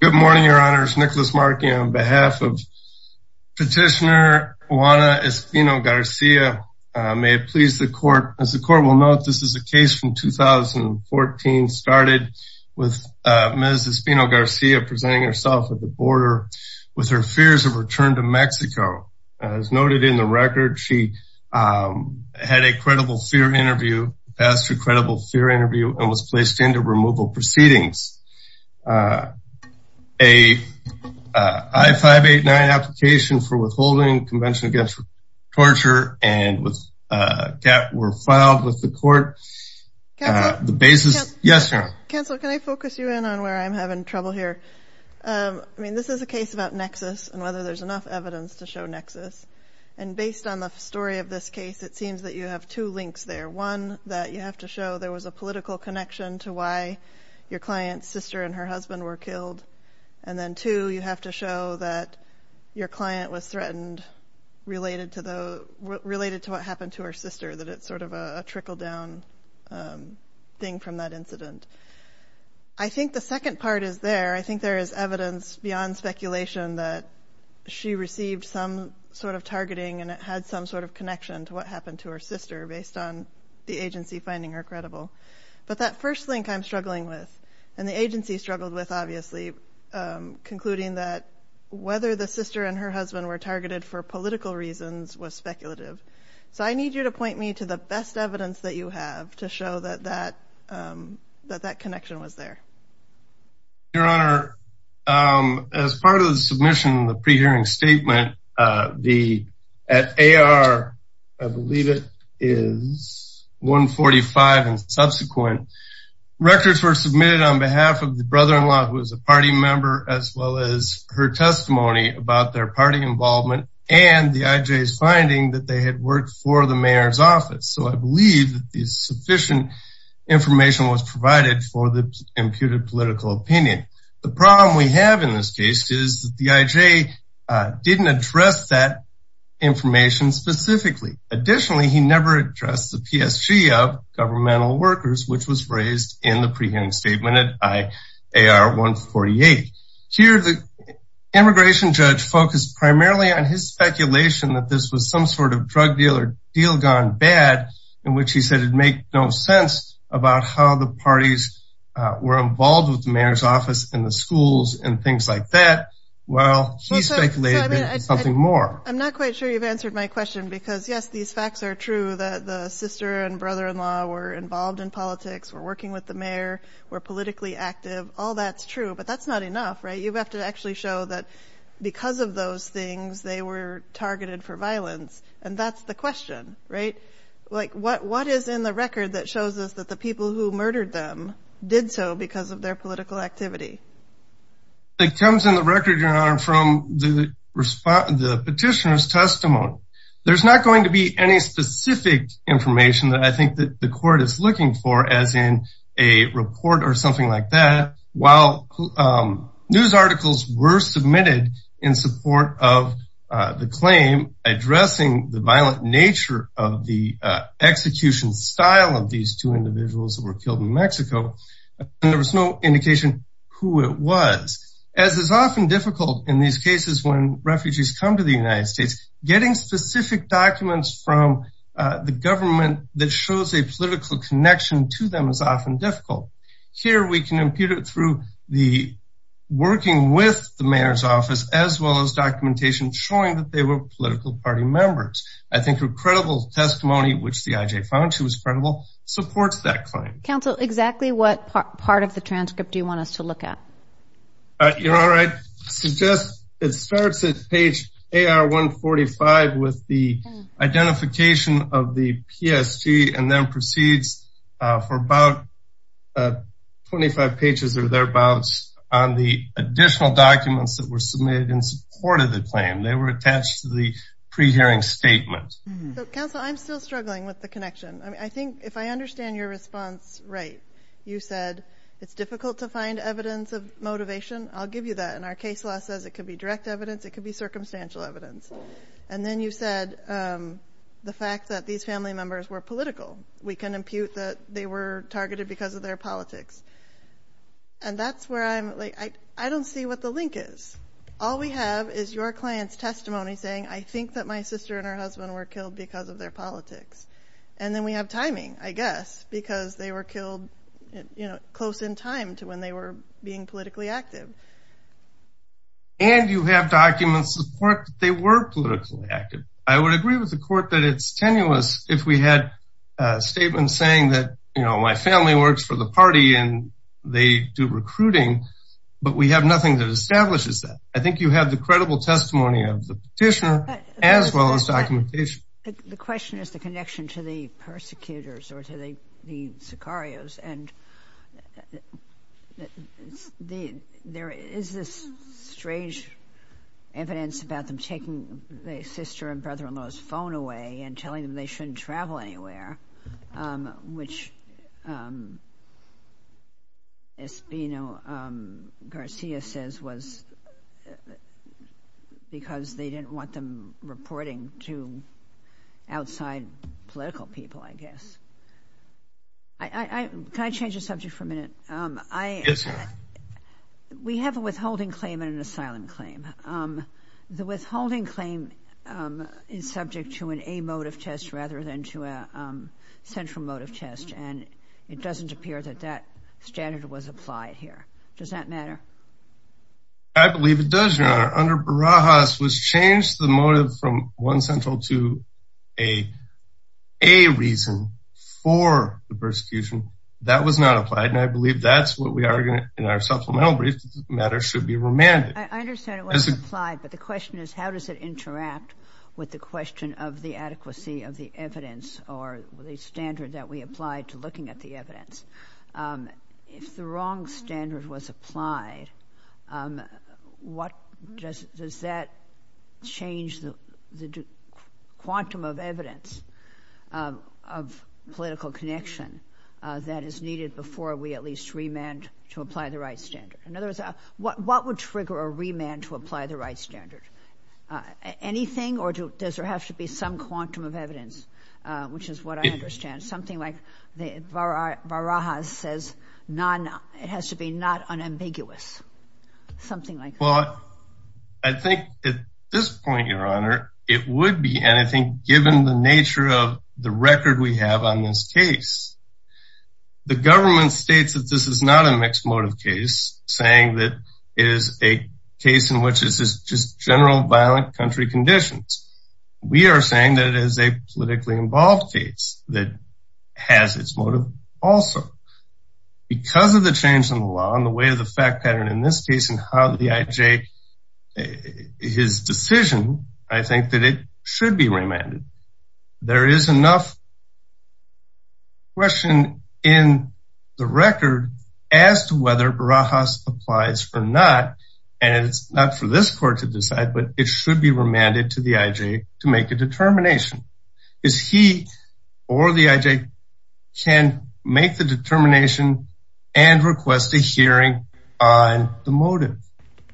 Good morning, your honors. Nicholas Markey on behalf of Petitioner Juana Espino Garcia. May it please the court. As the court will note, this is a case from 2014. Started with Ms. Espino Garcia presenting herself at the border with her fears of return to Mexico. As noted in the record, she had a credible fear interview, passed her credible fear interview, and was placed into removal proceedings. A I-589 application for withholding Convention Against Torture and GATT were filed with the court. The basis... Yes, your honor. Counselor, can I focus you in on where I'm having trouble here? I mean, this is a case about nexus and whether there's enough evidence to show nexus. And based on the story of this case, it seems that you have two links there. One, that you have to show there was a political connection to why your client's sister and her husband were killed. And then two, you have to show that your client was threatened related to what happened to her sister, that it's sort of a trickle-down thing from that incident. I think the second part is there. I think there is evidence beyond speculation that she received some sort of targeting and it had some sort of connection to what happened to her sister based on the agency finding her credible. But that first link I'm struggling with, and the agency struggled with, obviously, concluding that whether the sister and her husband were targeted for political reasons was speculative. So I need you to point me to the best evidence that you have to show that that connection was there. Your Honor, as part of the submission, the pre-hearing statement, at AR, I believe it is 145 and subsequent, records were submitted on behalf of the brother-in-law, who was a party member, as well as her testimony about their party involvement and the IJ's finding that they had worked for the mayor's office. So I believe that sufficient information was provided for the imputed political opinion. The problem we have in this case is that the IJ didn't address that information specifically. Additionally, he never addressed the PSG of governmental workers, which was raised in the pre-hearing statement at AR 148. Here, the immigration judge focused primarily on his speculation that this was some sort of drug deal or deal gone bad, in which he said it'd make no sense about how the parties were involved with the mayor's office and the schools and things like that. Well, he speculated that it was something more. I'm not quite sure you've answered my question because, yes, these facts are true, that the sister and brother-in-law were involved in politics, were working with the mayor, were politically active. All that's true, but that's not enough, right? You have to actually show that because of those things, they were targeted for violence. And that's the question, right? Like, what is in the record that shows us that the people who murdered them did so because of their political activity? It comes in the record, Your Honor, from the petitioner's testimony. There's not going to be any specific information that I think that the court is looking for as in a report or something like that. While news articles were submitted in support of the claim addressing the violent nature of the execution style of these two individuals who were killed in Mexico, there was no indication who it was. As is often difficult in these cases when refugees come to the United States, getting specific documents from the government that shows a political connection to them is often difficult. Here we can impute it through the working with the mayor's office as well as documentation showing that they were political party members. I think a credible testimony, which the IJ found to be credible, supports that claim. Counsel, exactly what part of the transcript do you want us to look at? Your Honor, I suggest it starts at page AR 145 with the identification of the PSG and then proceeds for about 25 pages or thereabouts on the additional documents that were submitted in support of the claim. They were attached to the pre-hearing statement. Counsel, I'm still struggling with the connection. I think if I understand your response right, you said it's difficult to find evidence of motivation. I'll give you that. And our case law says it could be direct evidence, it could be circumstantial evidence. And then you said the fact that these family members were political. We can impute that they were targeted because of their politics. And that's where I'm like, I don't see what the link is. All we have is your client's testimony saying, I think that my sister and her husband were killed because of their politics. And then we have timing, I guess, because they were killed close in time to when they were being politically active. And you have documents that support that they were politically active. I would agree with the court that it's tenuous if we had statements saying that, you know, my family works for the party and they do recruiting. But we have nothing that establishes that. I think you have the credible testimony of the petitioner as well as documentation. The question is the connection to the persecutors or to the sicarios. And there is this strange evidence about them taking their sister and brother-in-law's phone away and telling them they shouldn't travel anywhere, which Espino-Garcia says was because they didn't want them reporting to outside political people, I guess. Can I change the subject for a minute? Yes, ma'am. We have a withholding claim and an asylum claim. The withholding claim is subject to an a motive test rather than to a central motive test. And it doesn't appear that that standard was applied here. Does that matter? I believe it does, Your Honor. Under Barajas, which changed the motive from one central to a reason for the persecution, that was not applied. And I believe that's what we argue in our supplemental brief that this matter should be remanded. I understand it wasn't applied, but the question is how does it interact with the question of the adequacy of the evidence or the standard that we applied to looking at the evidence? If the wrong standard was applied, does that change the quantum of evidence of political connection that is needed before we at least remand to apply the right standard? In other words, what would trigger a remand to apply the right standard? Anything or does there have to be some quantum of evidence, which is what I understand. Something like Barajas says it has to be not unambiguous. Something like that. Well, I think at this point, Your Honor, it would be. And I think given the nature of the record we have on this case, the government states that this is not a mixed motive case. It's saying that it is a case in which this is just general violent country conditions. We are saying that it is a politically involved case that has its motive also. Because of the change in the law and the way of the fact pattern in this case and how the IJ, his decision, I think that it should be remanded. There is enough question in the record as to whether Barajas applies or not. And it's not for this court to decide, but it should be remanded to the IJ to make a determination. Because he or the IJ can make the determination and request a hearing on the motive.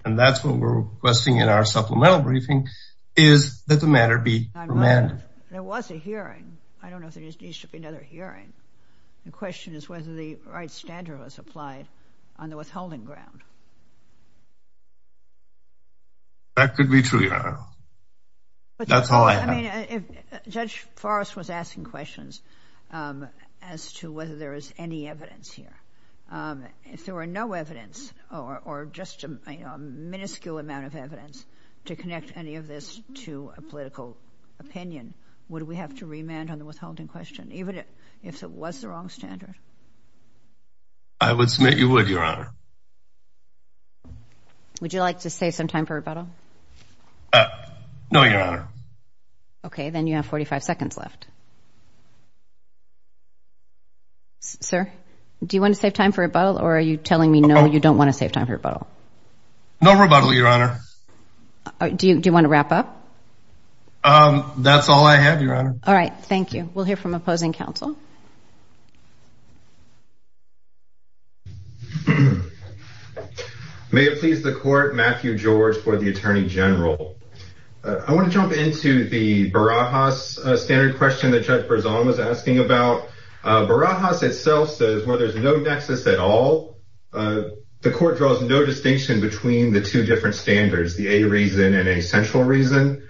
And that's what we're requesting in our supplemental briefing is that the matter be remanded. There was a hearing. I don't know if there needs to be another hearing. The question is whether the right standard was applied on the withholding ground. That could be true, Your Honor. That's all I have. Judge Forrest was asking questions as to whether there is any evidence here. If there were no evidence or just a minuscule amount of evidence to connect any of this to a political opinion, would we have to remand on the withholding question, even if it was the wrong standard? I would submit you would, Your Honor. Would you like to save some time for rebuttal? No, Your Honor. Okay. Then you have 45 seconds left. Sir, do you want to save time for rebuttal, or are you telling me no, you don't want to save time for rebuttal? No rebuttal, Your Honor. Do you want to wrap up? That's all I have, Your Honor. All right. Thank you. We'll hear from opposing counsel. May it please the Court, Matthew George for the Attorney General. I want to jump into the Barajas standard question that Judge Berzon was asking about. Barajas itself says where there's no nexus at all, the Court draws no distinction between the two different standards, the A reason and A central reason,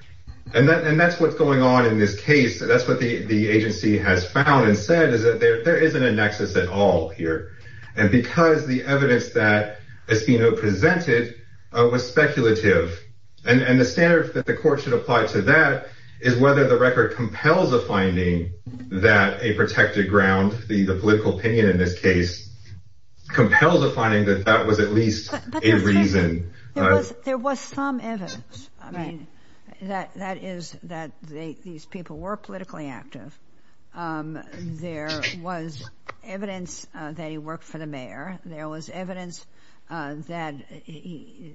and that's what's going on in this case. That's what the agency has found and said is that there isn't a nexus at all here, and because the evidence that Espino presented was speculative, and the standard that the Court should apply to that is whether the record compels a finding that a protected ground, the political opinion in this case, compels a finding that that was at least a reason. There was some evidence. I mean, that is that these people were politically active. There was evidence that he worked for the mayor. There was evidence that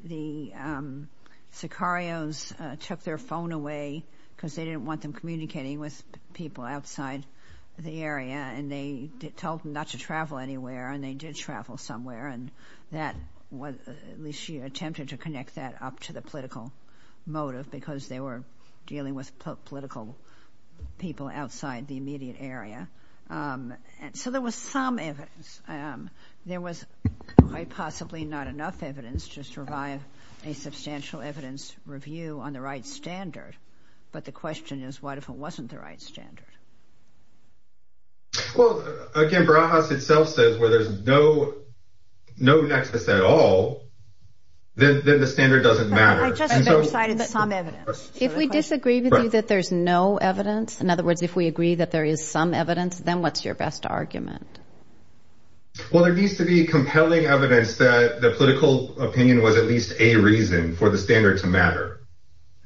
the Sicarios took their phone away because they didn't want them communicating with people outside the area, and they told them not to travel anywhere, and they did travel somewhere, and that was at least she attempted to connect that up to the political motive because they were dealing with political people outside the immediate area. So there was some evidence. There was quite possibly not enough evidence to survive a substantial evidence review on the right standard, but the question is what if it wasn't the right standard? Well, again, Barajas itself says where there's no nexus at all, then the standard doesn't matter. If we disagree with you that there's no evidence, in other words, if we agree that there is some evidence, then what's your best argument? Well, there needs to be compelling evidence that the political opinion was at least a reason for the standard to matter,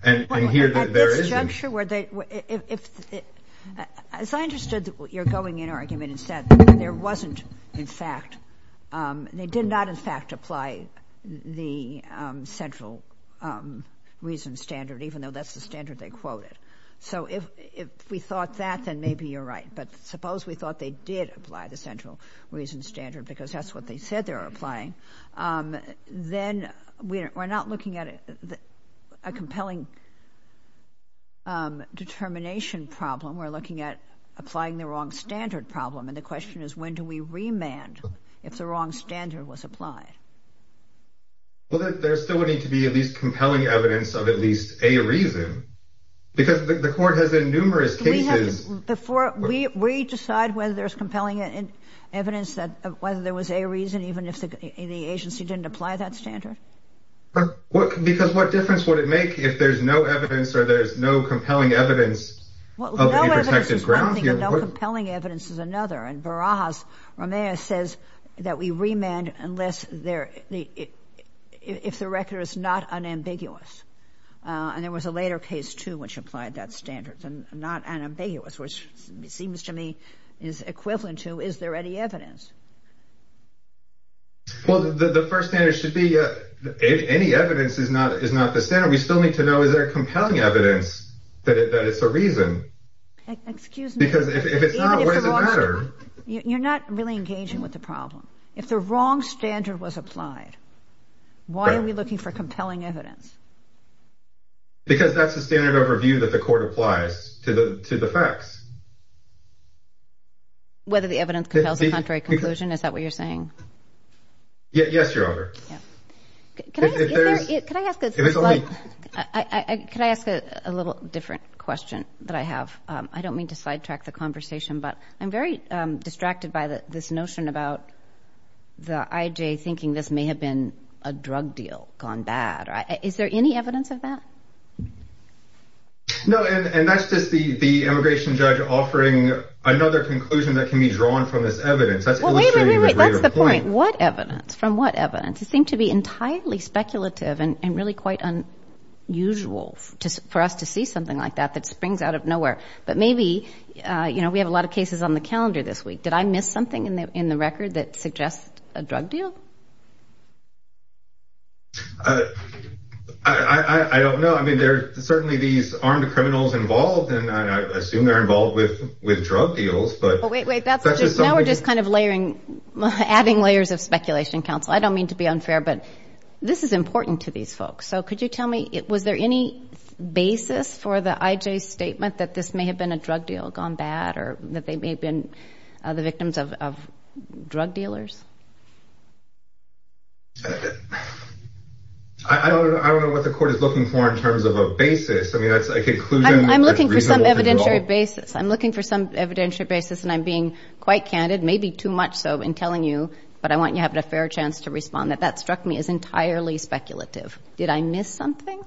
and here there isn't. At this juncture, as I understood your going-in argument, there wasn't, in fact, they did not, in fact, apply the central reason standard, even though that's the standard they quoted. So if we thought that, then maybe you're right, but suppose we thought they did apply the central reason standard because that's what they said they were applying, then we're not looking at a compelling determination problem. We're looking at applying the wrong standard problem, and the question is when do we remand if the wrong standard was applied? Well, there still would need to be at least compelling evidence of at least a reason, because the Court has in numerous cases. Before we decide whether there's compelling evidence that whether there was a reason, even if the agency didn't apply that standard? Because what difference would it make if there's no evidence or there's no compelling evidence of a reason? No evidence is one thing, but no compelling evidence is another, and Barajas' remand says that we remand if the record is not unambiguous, and there was a later case, too, which applied that standard, and not unambiguous, which seems to me is equivalent to is there any evidence? Well, the first standard should be any evidence is not the standard. We still need to know is there compelling evidence that it's a reason. Excuse me. Because if it's not, what does it matter? You're not really engaging with the problem. If the wrong standard was applied, why are we looking for compelling evidence? Because that's the standard overview that the Court applies to the facts. Whether the evidence compels a contrary conclusion, is that what you're saying? Yes, Your Honor. Can I ask a little different question that I have? I don't mean to sidetrack the conversation, but I'm very distracted by this notion about the IJ thinking this may have been a drug deal gone bad. Is there any evidence of that? No, and that's just the immigration judge offering another conclusion that can be drawn from this evidence. That's illustrating the greater point. What evidence? From what evidence? It seemed to be entirely speculative and really quite unusual for us to see something like that that springs out of nowhere. But maybe, you know, we have a lot of cases on the calendar this week. Did I miss something in the record that suggests a drug deal? I don't know. I mean, there are certainly these armed criminals involved, and I assume they're involved with drug deals. Now we're just kind of layering, adding layers of speculation, counsel. I don't mean to be unfair, but this is important to these folks. So could you tell me, was there any basis for the IJ's statement that this may have been a drug deal gone bad or that they may have been the victims of drug dealers? I don't know what the court is looking for in terms of a basis. I mean, a conclusion that's reasonable to draw. I'm looking for some evidentiary basis. And I'm being quite candid, maybe too much so in telling you, but I want you to have a fair chance to respond, that that struck me as entirely speculative. Did I miss something?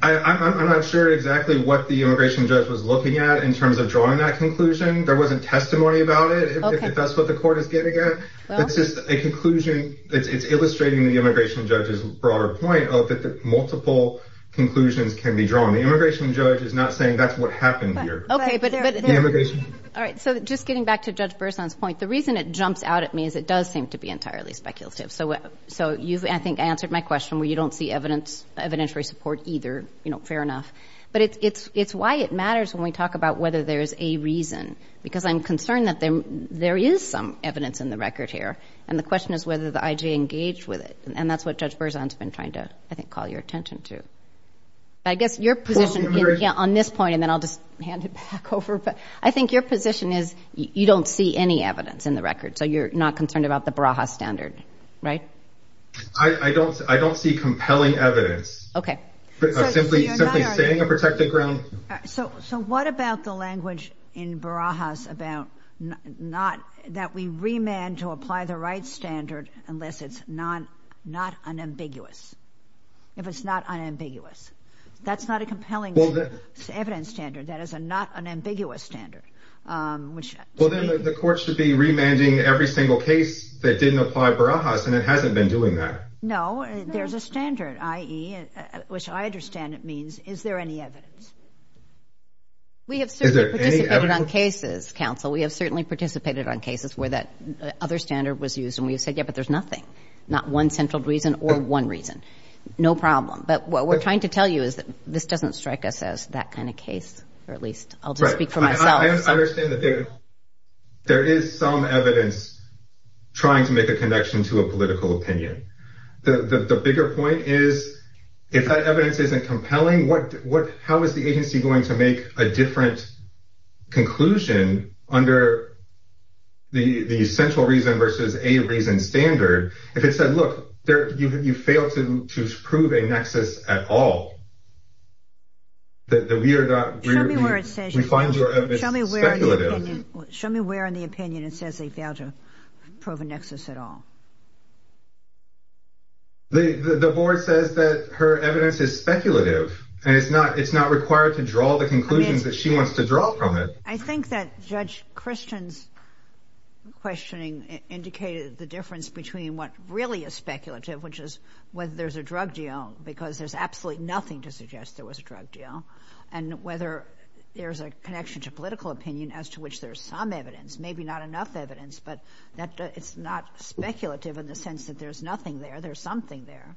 I'm not sure exactly what the immigration judge was looking at in terms of drawing that conclusion. There wasn't testimony about it, if that's what the court is getting at. It's just a conclusion. It's illustrating the immigration judge's broader point of that multiple conclusions can be drawn. The immigration judge is not saying that's what happened here. Okay. All right. So just getting back to Judge Berzon's point, the reason it jumps out at me is it does seem to be entirely speculative. So I think I answered my question where you don't see evidentiary support either, you know, fair enough. But it's why it matters when we talk about whether there's a reason, because I'm concerned that there is some evidence in the record here, and the question is whether the IJ engaged with it. And that's what Judge Berzon's been trying to, I think, call your attention to. I guess your position on this point, and then I'll just hand it back over, but I think your position is you don't see any evidence in the record, so you're not concerned about the Barajas standard, right? I don't see compelling evidence. Okay. Simply saying a protected ground. So what about the language in Barajas about not that we remand to apply the right standard unless it's not unambiguous, if it's not unambiguous? That's not a compelling evidence standard. That is a not unambiguous standard. Well, then the court should be remanding every single case that didn't apply Barajas, and it hasn't been doing that. No, there's a standard, i.e., which I understand it means, is there any evidence? Is there any evidence? We have certainly participated on cases, counsel. We have certainly participated on cases where that other standard was used, and we have said, yeah, but there's nothing, not one central reason or one reason. No problem. But what we're trying to tell you is that this doesn't strike us as that kind of case, or at least I'll just speak for myself. I understand that there is some evidence trying to make a connection to a political opinion. The bigger point is if that evidence isn't compelling, how is the agency going to make a different conclusion under the central reason versus a reason standard? If it said, look, you failed to prove a nexus at all, we find your evidence speculative. Show me where in the opinion it says they failed to prove a nexus at all. The board says that her evidence is speculative, and it's not required to draw the conclusions that she wants to draw from it. I think that Judge Christian's questioning indicated the difference between what really is speculative, which is whether there's a drug deal, because there's absolutely nothing to suggest there was a drug deal, and whether there's a connection to political opinion as to which there's some evidence, maybe not enough evidence, but it's not speculative in the sense that there's nothing there. There's something there.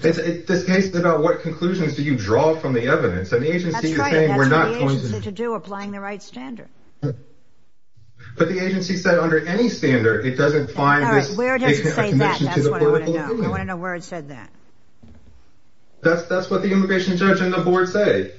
This case is about what conclusions do you draw from the evidence. That's right. And the agency is saying we're not going to... That's what the agency said to do, applying the right standard. But the agency said under any standard, it doesn't find this... All right, where does it say that? That's what I want to know. I want to know where it said that. That's what the immigration judge and the board say.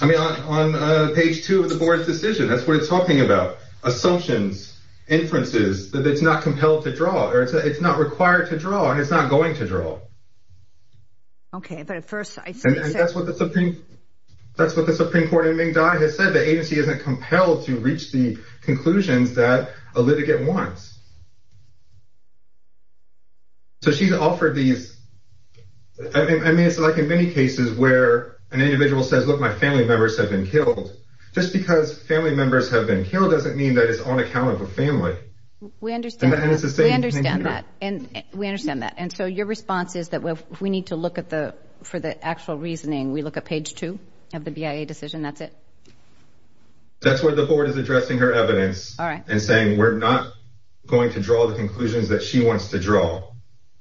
On page 2 of the board's decision, that's what it's talking about, assumptions, inferences, that it's not compelled to draw, or it's not required to draw, and it's not going to draw. Okay, but at first... And that's what the Supreme Court in Ming Dai has said, the agency isn't compelled to reach the conclusions that a litigant wants. So she's offered these... I mean, it's like in many cases where an individual says, look, my family members have been killed. Just because family members have been killed doesn't mean that it's on account of a family. We understand that. And the agency is saying... We understand that. And so your response is that we need to look at the... For the actual reasoning, we look at page 2 of the BIA decision, that's it? That's where the board is addressing her evidence... All right. And saying we're not going to draw the conclusions that she wants to draw.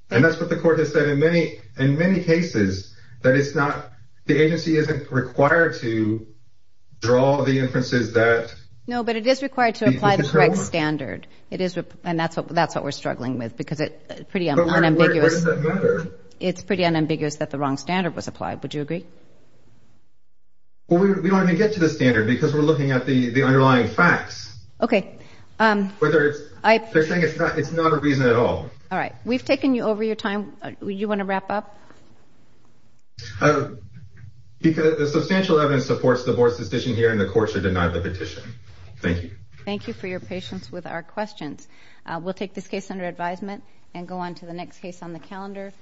And that's what the court has said in many cases, that it's not... The agency isn't required to draw the inferences that... No, but it is required to apply the correct standard. And that's what we're struggling with because it's pretty unambiguous. But where does that matter? It's pretty unambiguous that the wrong standard was applied. Would you agree? Well, we don't even get to the standard because we're looking at the underlying facts. Okay. Whether it's... They're saying it's not a reason at all. All right. We've taken you over your time. Do you want to wrap up? The substantial evidence supports the board's decision here, and the court should deny the petition. Thank you. Thank you for your patience with our questions. We'll take this case under advisement and go on to the next case on the calendar.